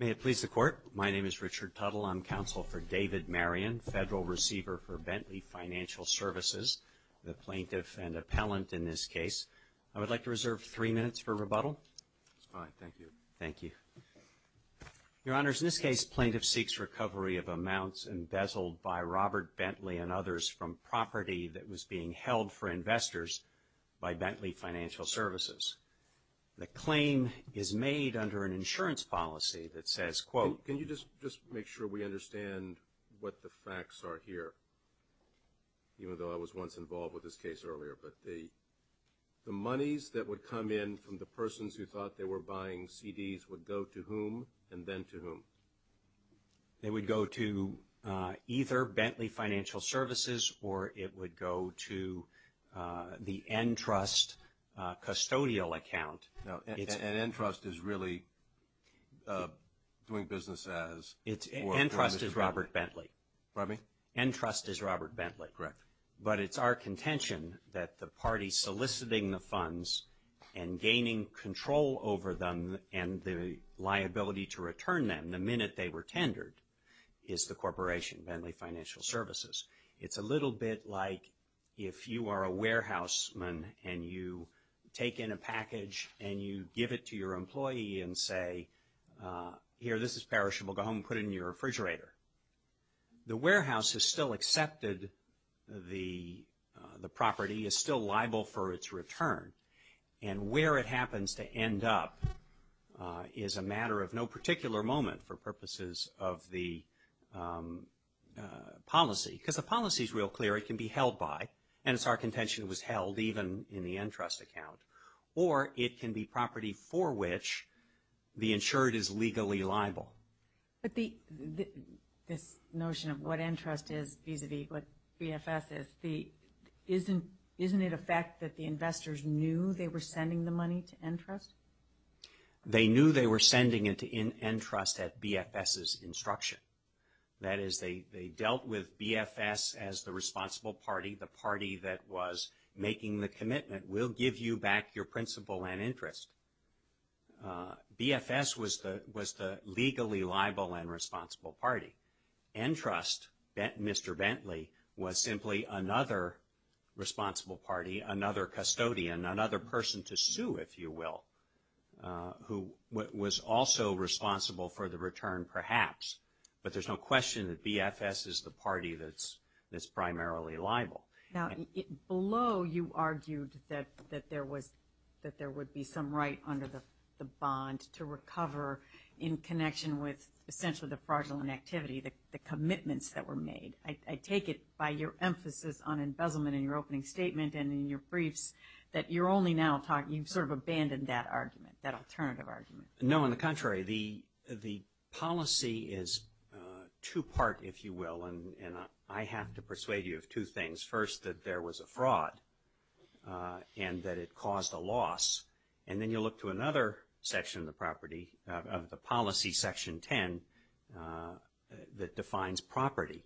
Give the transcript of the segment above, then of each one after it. May it please the Court. My name is Richard Tuttle. I'm counsel for David Marion, Federal Receiver For Bentley Financial Services, the plaintiff and appellant in this case. I would like to reserve three minutes for rebuttal. All right. Thank you. Thank you. Your Honors, in this case, plaintiff seeks recovery of amounts embezzled by Robert Bentley and others from property that was being held for investors by Bentley Financial Services. The claim is made under an insurance policy that says, quote Can you just make sure we understand what the facts are here, even though I was once involved with this case earlier? But the monies that would come in from the persons who thought they were buying CDs would go to whom and then to whom? They would go to either Bentley Financial Services or it would go to the Entrust custodial account. And Entrust is really doing business as? Entrust is Robert Bentley. Pardon me? Entrust is Robert Bentley. Correct. But it's our contention that the party soliciting the funds and gaining control over them and the liability to return them the minute they were tendered is the corporation, Bentley Financial Services. It's a little bit like if you are a warehouse man and you take in a package and you give it to your employee and say, here, this is perishable. Go home and put it in your refrigerator. The warehouse has still accepted the property, is still liable for its return. And where it happens to end up is a matter of no particular moment for purposes of the policy. Because the policy is real clear. It can be held by, and it's our contention it was held even in the Entrust account. Or it can be property for which the insured is legally liable. But this notion of what Entrust is vis-a-vis what BFS is, isn't it a fact that the investors knew they were sending the money to Entrust? They knew they were sending it to Entrust at BFS's instruction. That is, they dealt with BFS as the responsible party, the party that was making the commitment. We'll give you back your principal and interest. BFS was the legally liable and responsible party. Entrust, Mr. Bentley, was simply another responsible party, another custodian, another person to sue, if you will, who was also responsible for the return perhaps. But there's no question that BFS is the party that's primarily liable. Now, below you argued that there would be some right under the bond to recover in connection with essentially the fraudulent activity, the commitments that were made. I take it by your emphasis on embezzlement in your opening statement and in your briefs that you're only now talking, you've sort of abandoned that argument, that alternative argument. No, on the contrary. The policy is two-part, if you will, and I have to persuade you of two things. First, that there was a fraud and that it caused a loss. And then you look to another section of the policy, Section 10, that defines property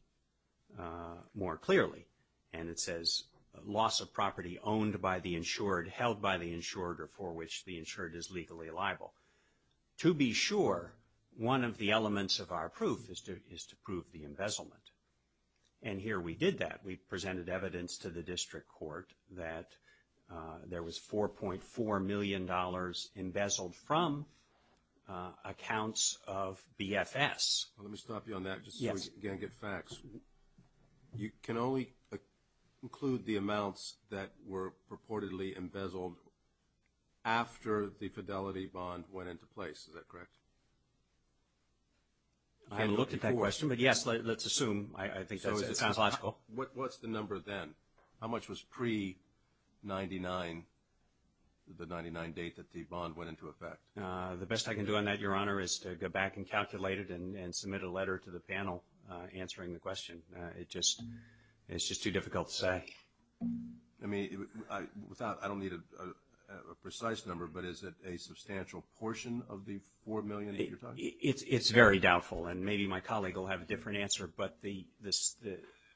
more clearly. And it says, loss of property owned by the insured, held by the insured, or for which the insured is legally liable. To be sure, one of the elements of our proof is to prove the embezzlement. And here we did that. We presented evidence to the district court that there was $4.4 million embezzled from accounts of BFS. Let me stop you on that just so we can get facts. You can only include the amounts that were purportedly embezzled after the fidelity bond went into place. Is that correct? I haven't looked at that question, but yes, let's assume. I think that sounds logical. What's the number then? How much was pre-99, the 99 date that the bond went into effect? The best I can do on that, Your Honor, is to go back and calculate it and submit a letter to the panel answering the question. It's just too difficult to say. I mean, I don't need a precise number, but is it a substantial portion of the $4 million that you're talking about? It's very doubtful, and maybe my colleague will have a different answer. But the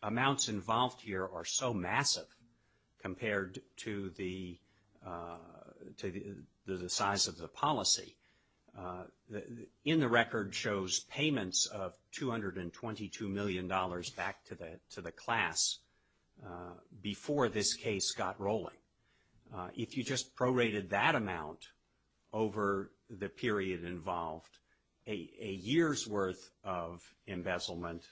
amounts involved here are so massive compared to the size of the policy. In the record shows payments of $222 million back to the class before this case got rolling. If you just prorated that amount over the period involved, a year's worth of embezzlement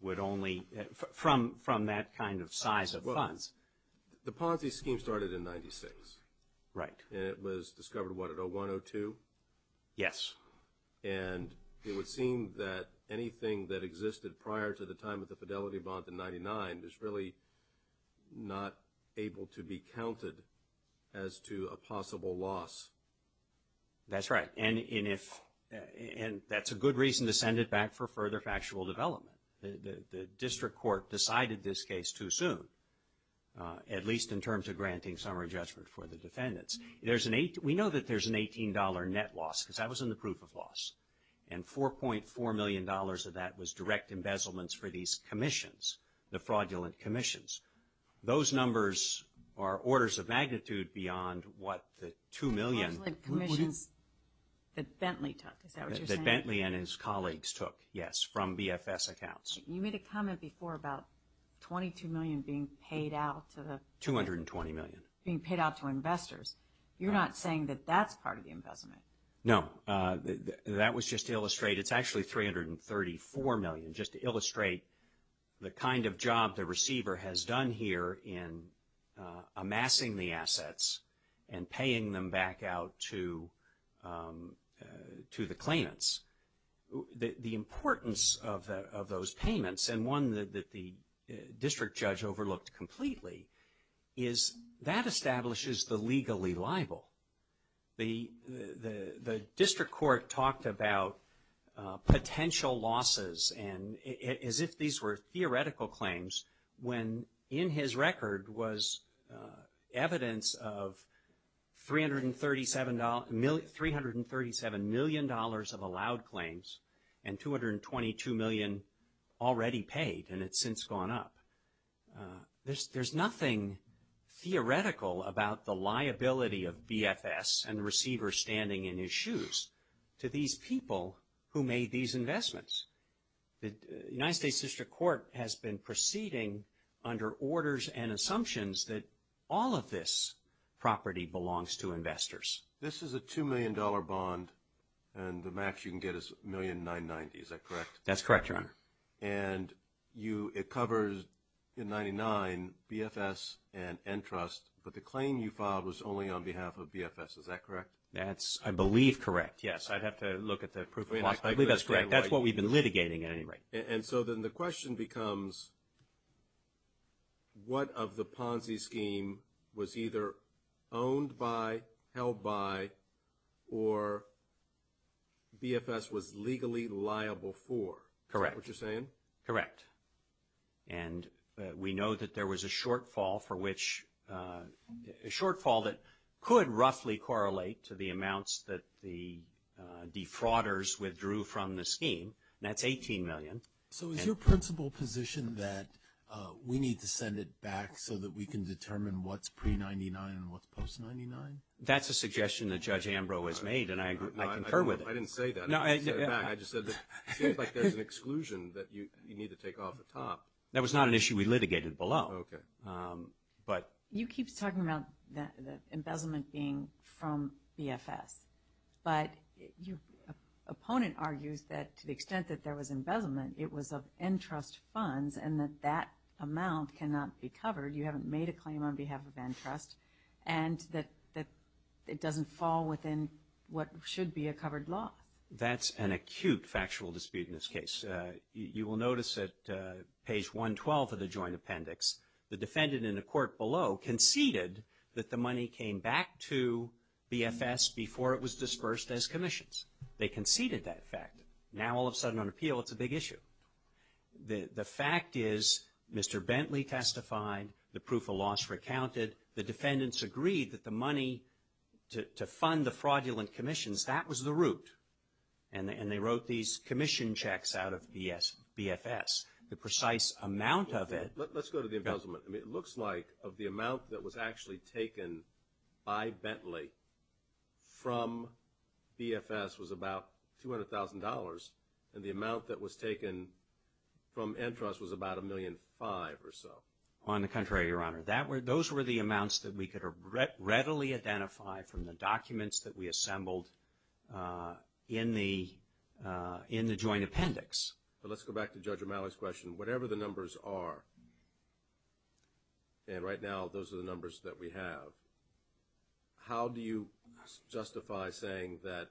would only, from that kind of size of funds. The policy scheme started in 96. Right. And it was discovered, what, at 01, 02? Yes. And it would seem that anything that existed prior to the time of the fidelity bond in 99 is really not able to be counted as to a possible loss. That's right. And that's a good reason to send it back for further factual development. The district court decided this case too soon, at least in terms of granting summary judgment for the defendants. We know that there's an $18 net loss, because that was in the proof of loss. And $4.4 million of that was direct embezzlements for these commissions, the fraudulent commissions. Those numbers are orders of magnitude beyond what the $2 million would have been. Fraudulent commissions that Bentley took, is that what you're saying? That Bentley and his colleagues took, yes, from BFS accounts. You made a comment before about $22 million being paid out to the- $220 million. Being paid out to investors. You're not saying that that's part of the embezzlement. No. That was just to illustrate, it's actually $334 million, just to illustrate the kind of job the receiver has done here in amassing the assets and paying them back out to the claimants. The importance of those payments, and one that the district judge overlooked completely, is that establishes the legally liable. The district court talked about potential losses, as if these were theoretical claims, when in his record was evidence of $337 million of allowed claims, and $222 million already paid, and it's since gone up. There's nothing theoretical about the liability of BFS and the receiver standing in his shoes to these people who made these investments. The United States District Court has been proceeding under orders and assumptions that all of this property belongs to investors. This is a $2 million bond, and the max you can get is $1,990,000. Is that correct? That's correct, Your Honor. And it covers, in 99, BFS and Entrust, but the claim you filed was only on behalf of BFS. Is that correct? That's, I believe, correct, yes. I'd have to look at the proof of cost, but I believe that's correct. That's what we've been litigating at any rate. And so then the question becomes, what of the Ponzi scheme was either owned by, held by, or BFS was legally liable for? Correct. Is that what you're saying? Correct. And we know that there was a shortfall for which, a shortfall that could roughly correlate to the amounts that the defrauders withdrew from the scheme, and that's $18 million. So is your principal position that we need to send it back so that we can determine what's pre-'99 and what's post-'99? That's a suggestion that Judge Ambrose made, and I concur with it. I didn't say that. I just said that it seems like there's an exclusion that you need to take off the top. That was not an issue we litigated below. Okay. You keep talking about the embezzlement being from BFS, but your opponent argues that to the extent that there was embezzlement, it was of NTRUST funds, and that that amount cannot be covered. You haven't made a claim on behalf of NTRUST, and that it doesn't fall within what should be a covered loss. That's an acute factual dispute in this case. You will notice at page 112 of the joint appendix, the defendant in the court below conceded that the money came back to BFS before it was dispersed as commissions. They conceded that fact. Now, all of a sudden, on appeal, it's a big issue. The fact is Mr. Bentley testified. The proof of loss recounted. The defendants agreed that the money to fund the fraudulent commissions, that was the root, and they wrote these commission checks out of BFS. The precise amount of it. Let's go to the embezzlement. It looks like of the amount that was actually taken by Bentley from BFS was about $200,000, and the amount that was taken from NTRUST was about $1.5 million or so. On the contrary, Your Honor. Those were the amounts that we could readily identify from the documents that we assembled in the joint appendix. Let's go back to Judge O'Malley's question. Whatever the numbers are, and right now those are the numbers that we have, how do you justify saying that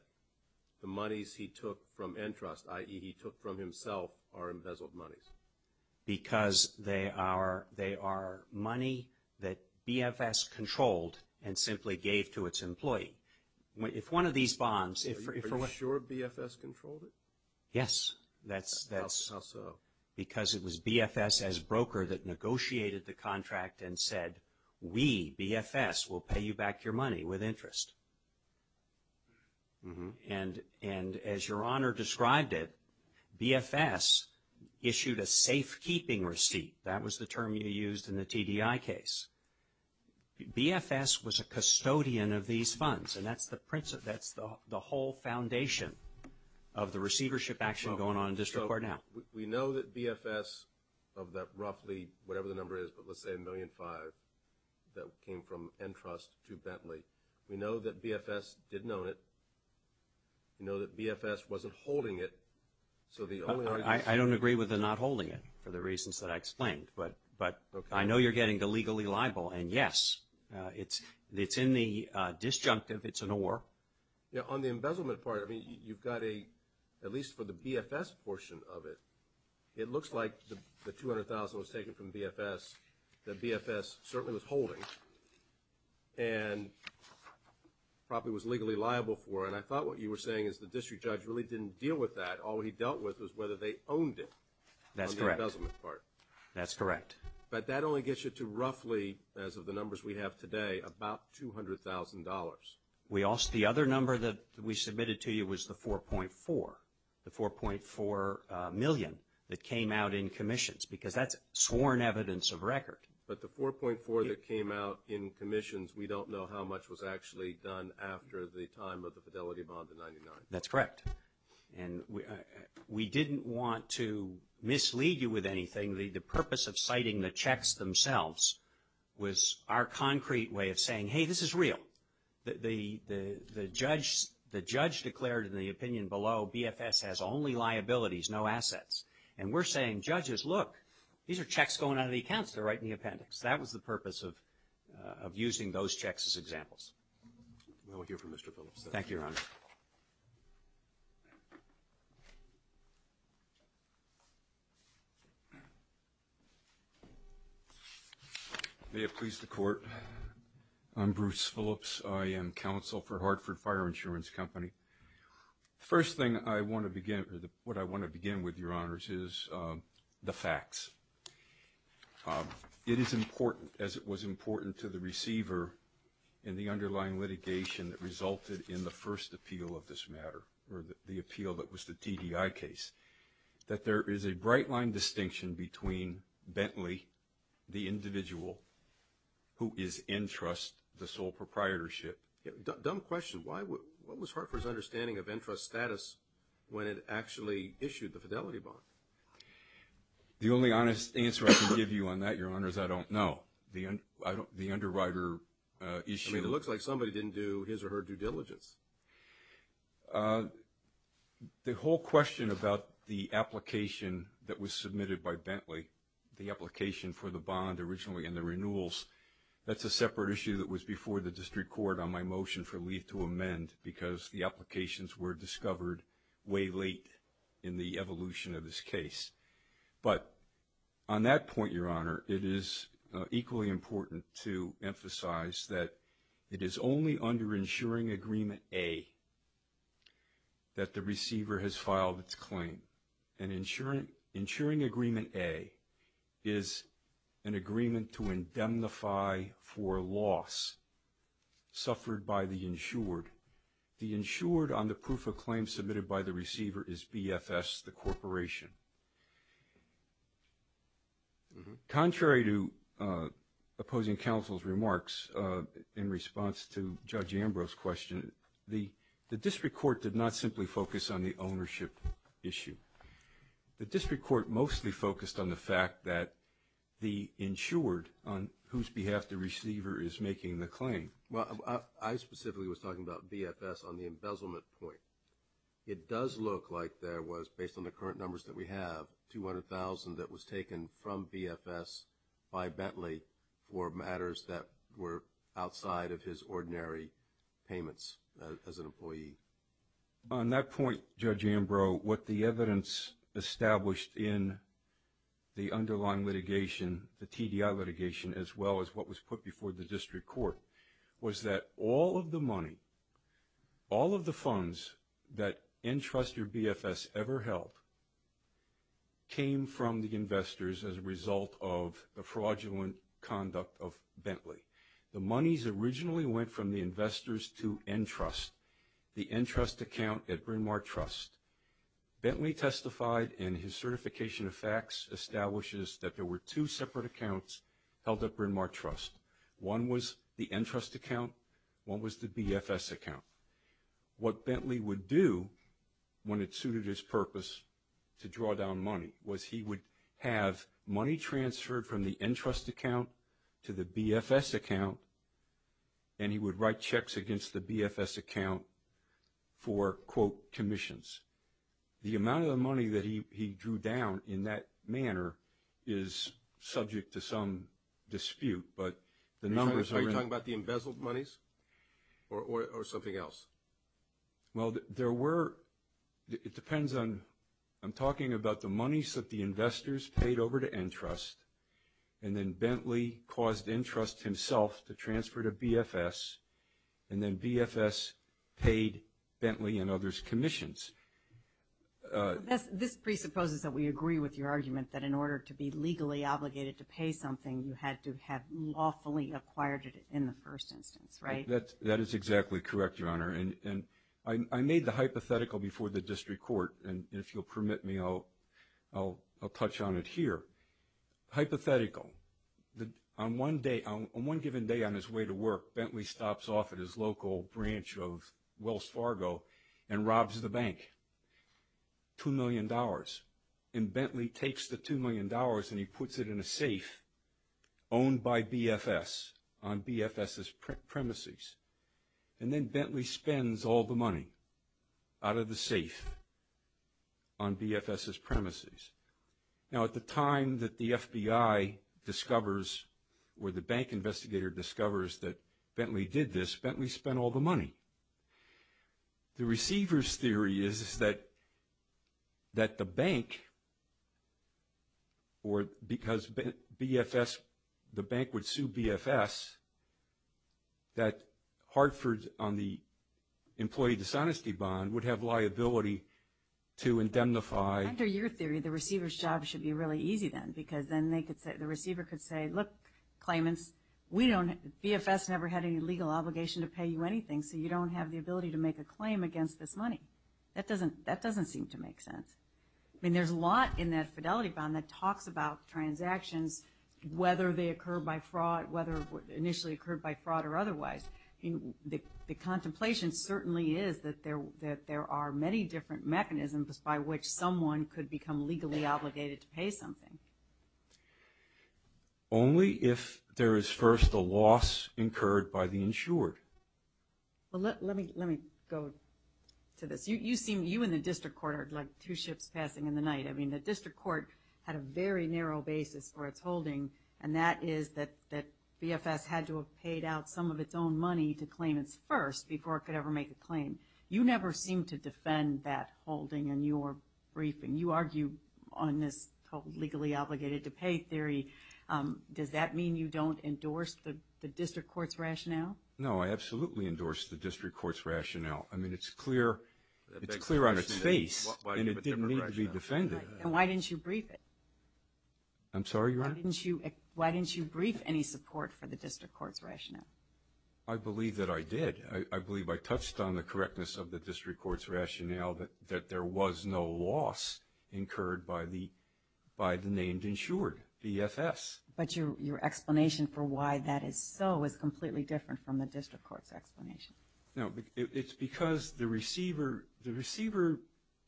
the monies he took from NTRUST, i.e. he took from himself, are embezzled monies? Because they are money that BFS controlled and simply gave to its employee. If one of these bonds... Are you sure BFS controlled it? Yes. How so? Because it was BFS as broker that negotiated the contract and said, we, BFS, will pay you back your money with interest. And as Your Honor described it, BFS issued a safekeeping receipt. That was the term you used in the TDI case. BFS was a custodian of these funds, and that's the whole foundation of the receivership action going on in District Court now. We know that BFS, of that roughly, whatever the number is, but let's say $1.5 million that came from NTRUST to Bentley, we know that BFS didn't own it. We know that BFS wasn't holding it, so the only argument... I don't agree with the not holding it for the reasons that I explained. But I know you're getting the legally liable, and yes, it's in the disjunctive, it's an or. Yeah, on the embezzlement part, I mean, you've got a, at least for the BFS portion of it, it looks like the $200,000 was taken from BFS that BFS certainly was holding. And probably was legally liable for, and I thought what you were saying is the district judge really didn't deal with that. All he dealt with was whether they owned it. On the embezzlement part. That's correct. But that only gets you to roughly, as of the numbers we have today, about $200,000. The other number that we submitted to you was the 4.4, the $4.4 million that came out in commissions, because that's sworn evidence of record. But the 4.4 that came out in commissions, we don't know how much was actually done after the time of the Fidelity bond, the 99. That's correct. And we didn't want to mislead you with anything. The purpose of citing the checks themselves was our concrete way of saying, hey, this is real. The judge declared in the opinion below, BFS has only liabilities, no assets. And we're saying, judges, look, these are checks going out of the accounts. They're right in the appendix. That was the purpose of using those checks as examples. We'll hear from Mr. Phillips. Thank you, Your Honor. May it please the Court. I'm Bruce Phillips. I am counsel for Hartford Fire Insurance Company. The first thing I want to begin with, what I want to begin with, Your Honors, is the facts. It is important, as it was important to the receiver in the underlying litigation that resulted in the first appeal of this matter, or the appeal that was the TDI case, that there is a bright-line distinction between Bentley, the individual who is in trust, the sole proprietorship. Dumb question. What was Hartford's understanding of in-trust status when it actually issued the fidelity bond? The only honest answer I can give you on that, Your Honors, I don't know. The underwriter issue. I mean, it looks like somebody didn't do his or her due diligence. The whole question about the application that was submitted by Bentley, the application for the bond originally and the renewals, that's a separate issue that was before the district court on my motion for leave to amend because the applications were discovered way late in the evolution of this case. But on that point, Your Honor, it is equally important to emphasize that it is only under insuring agreement A that the receiver has filed its claim. Insuring agreement A is an agreement to indemnify for loss suffered by the insured. The insured on the proof of claim submitted by the receiver is BFS, the corporation. Contrary to opposing counsel's remarks in response to Judge Ambrose's question, the district court did not simply focus on the ownership issue. The district court mostly focused on the fact that the insured on whose behalf the receiver is making the claim. Well, I specifically was talking about BFS on the embezzlement point. It does look like there was, based on the current numbers that we have, 200,000 that was taken from BFS by Bentley for matters that were outside of his ordinary payments as an employee. On that point, Judge Ambrose, what the evidence established in the underlying litigation, the TDI litigation, as well as what was put before the district court was that all of the money, all of the funds that NTRUST or BFS ever held came from the investors as a result of the fraudulent conduct of Bentley. The monies originally went from the investors to NTRUST, the NTRUST account at Bryn Mawr Trust. Bentley testified in his certification of facts establishes that there were two separate accounts held at Bryn Mawr Trust. One was the NTRUST account. One was the BFS account. What Bentley would do when it suited his purpose to draw down money was he would have money transferred from the NTRUST account to the BFS account, and he would write checks against the BFS account for, quote, commissions. The amount of the money that he drew down in that manner is subject to some dispute, but the numbers are in. Are you talking about the embezzled monies or something else? Well, there were, it depends on, I'm talking about the monies that the investors paid over to NTRUST, and then Bentley caused NTRUST himself to transfer to BFS, and then BFS paid Bentley and others commissions. This presupposes that we agree with your argument that in order to be legally obligated to pay something, you had to have lawfully acquired it in the first instance, right? I made the hypothetical before the district court, and if you'll permit me, I'll touch on it here. Hypothetical. On one given day on his way to work, Bentley stops off at his local branch of Wells Fargo and robs the bank, $2 million. And Bentley takes the $2 million and he puts it in a safe owned by BFS on BFS's premises. And then Bentley spends all the money out of the safe on BFS's premises. Now, at the time that the FBI discovers or the bank investigator discovers that Bentley did this, Bentley spent all the money. The receiver's theory is that the bank, or because BFS, the bank would sue BFS, that Hartford on the employee dishonesty bond would have liability to indemnify. Under your theory, the receiver's job should be really easy then, because then the receiver could say, look, claimants, BFS never had any legal obligation to pay you anything, so you don't have the ability to make a claim against this money. That doesn't seem to make sense. I mean, there's a lot in that fidelity bond that talks about transactions, whether they occur by fraud, whether it initially occurred by fraud or otherwise. The contemplation certainly is that there are many different mechanisms by which someone could become legally obligated to pay something. Only if there is first a loss incurred by the insured. Well, let me go to this. You seem, you and the district court are like two ships passing in the night. I mean, the district court had a very narrow basis for its holding, and that is that BFS had to have paid out some of its own money to claim its first before it could ever make a claim. You never seem to defend that holding in your briefing. You argue on this whole legally obligated to pay theory. Does that mean you don't endorse the district court's rationale? No, I absolutely endorse the district court's rationale. I mean, it's clear on its face, and it didn't need to be defended. Then why didn't you brief it? I'm sorry, Your Honor? Why didn't you brief any support for the district court's rationale? I believe that I did. I believe I touched on the correctness of the district court's rationale that there was no loss incurred by the named insured, BFS. But your explanation for why that is so is completely different from the district court's explanation. No, it's because the receiver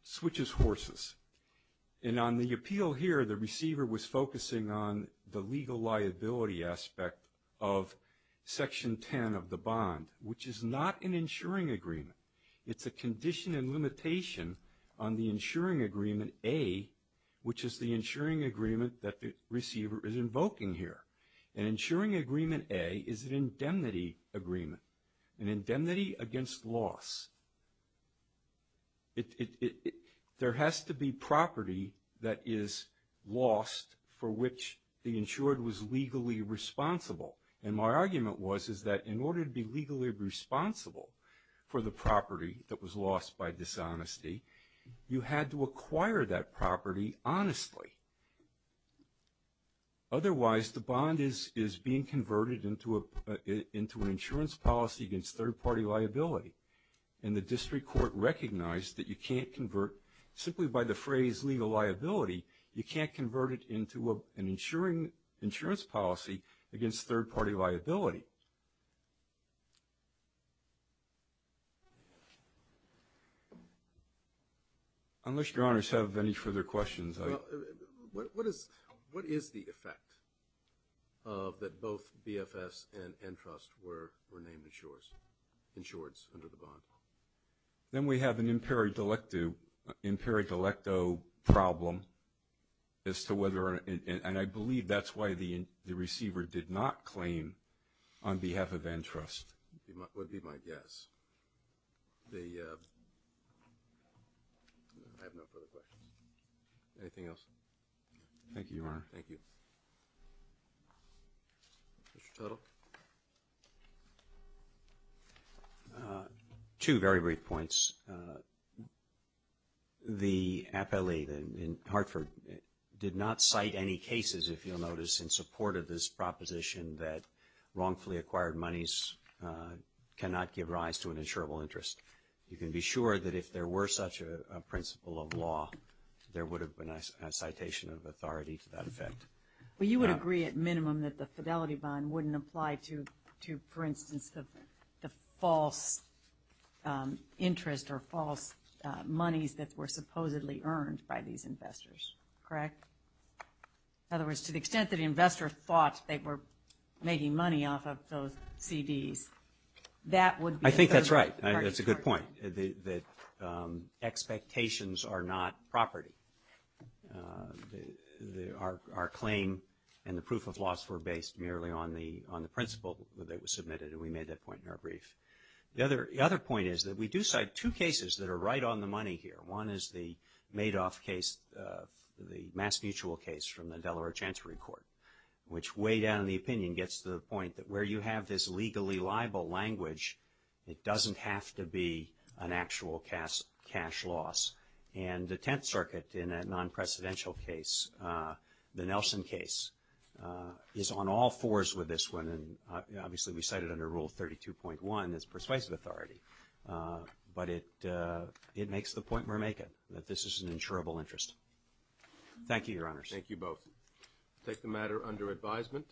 switches horses. And on the appeal here, the receiver was focusing on the legal liability aspect of Section 10 of the bond, which is not an insuring agreement. It's a condition and limitation on the insuring agreement, A, which is the insuring agreement that the receiver is invoking here. An insuring agreement, A, is an indemnity agreement, an indemnity against loss. There has to be property that is lost for which the insured was legally responsible. And my argument was is that in order to be legally responsible for the property that was lost by dishonesty, you had to acquire that property honestly. Otherwise, the bond is being converted into an insurance policy against third-party liability. And the district court recognized that you can't convert simply by the phrase legal liability, you can't convert it into an insurance policy against third-party liability. Unless your honors have any further questions. Well, what is the effect of that both BFS and Entrust were named insureds under the bond? Then we have an imperi delicto problem as to whether, and I believe that's why the receiver did not claim on behalf of Entrust. Would be my guess. I have no further questions. Anything else? Thank you, Your Honor. Thank you. Mr. Tuttle. Two very brief points. The appellate in Hartford did not cite any cases, if you'll notice, in support of this proposition that wrongfully acquired monies cannot give rise to an insurable interest. You can be sure that if there were such a principle of law, there would have been a citation of authority to that effect. Well, you would agree at minimum that the fidelity bond wouldn't apply to, for instance, the false interest or false monies that were supposedly earned by these investors, correct? In other words, to the extent that the investor thought they were making money off of those CDs, that would be. I think that's right. That's a good point, that expectations are not property. Our claim and the proof of loss were based merely on the principle that was submitted, and we made that point in our brief. The other point is that we do cite two cases that are right on the money here. One is the Madoff case, the mass mutual case from the Delaware Chancery Court, which way down in the opinion gets to the point that where you have this legally liable language, it doesn't have to be an actual cash loss. And the Tenth Circuit in that non-precedential case, the Nelson case, is on all fours with this one. And obviously, we cite it under Rule 32.1 as persuasive authority. But it makes the point we're making, that this is an insurable interest. Thank you, Your Honors. Thank you both. We'll take the matter under advisement.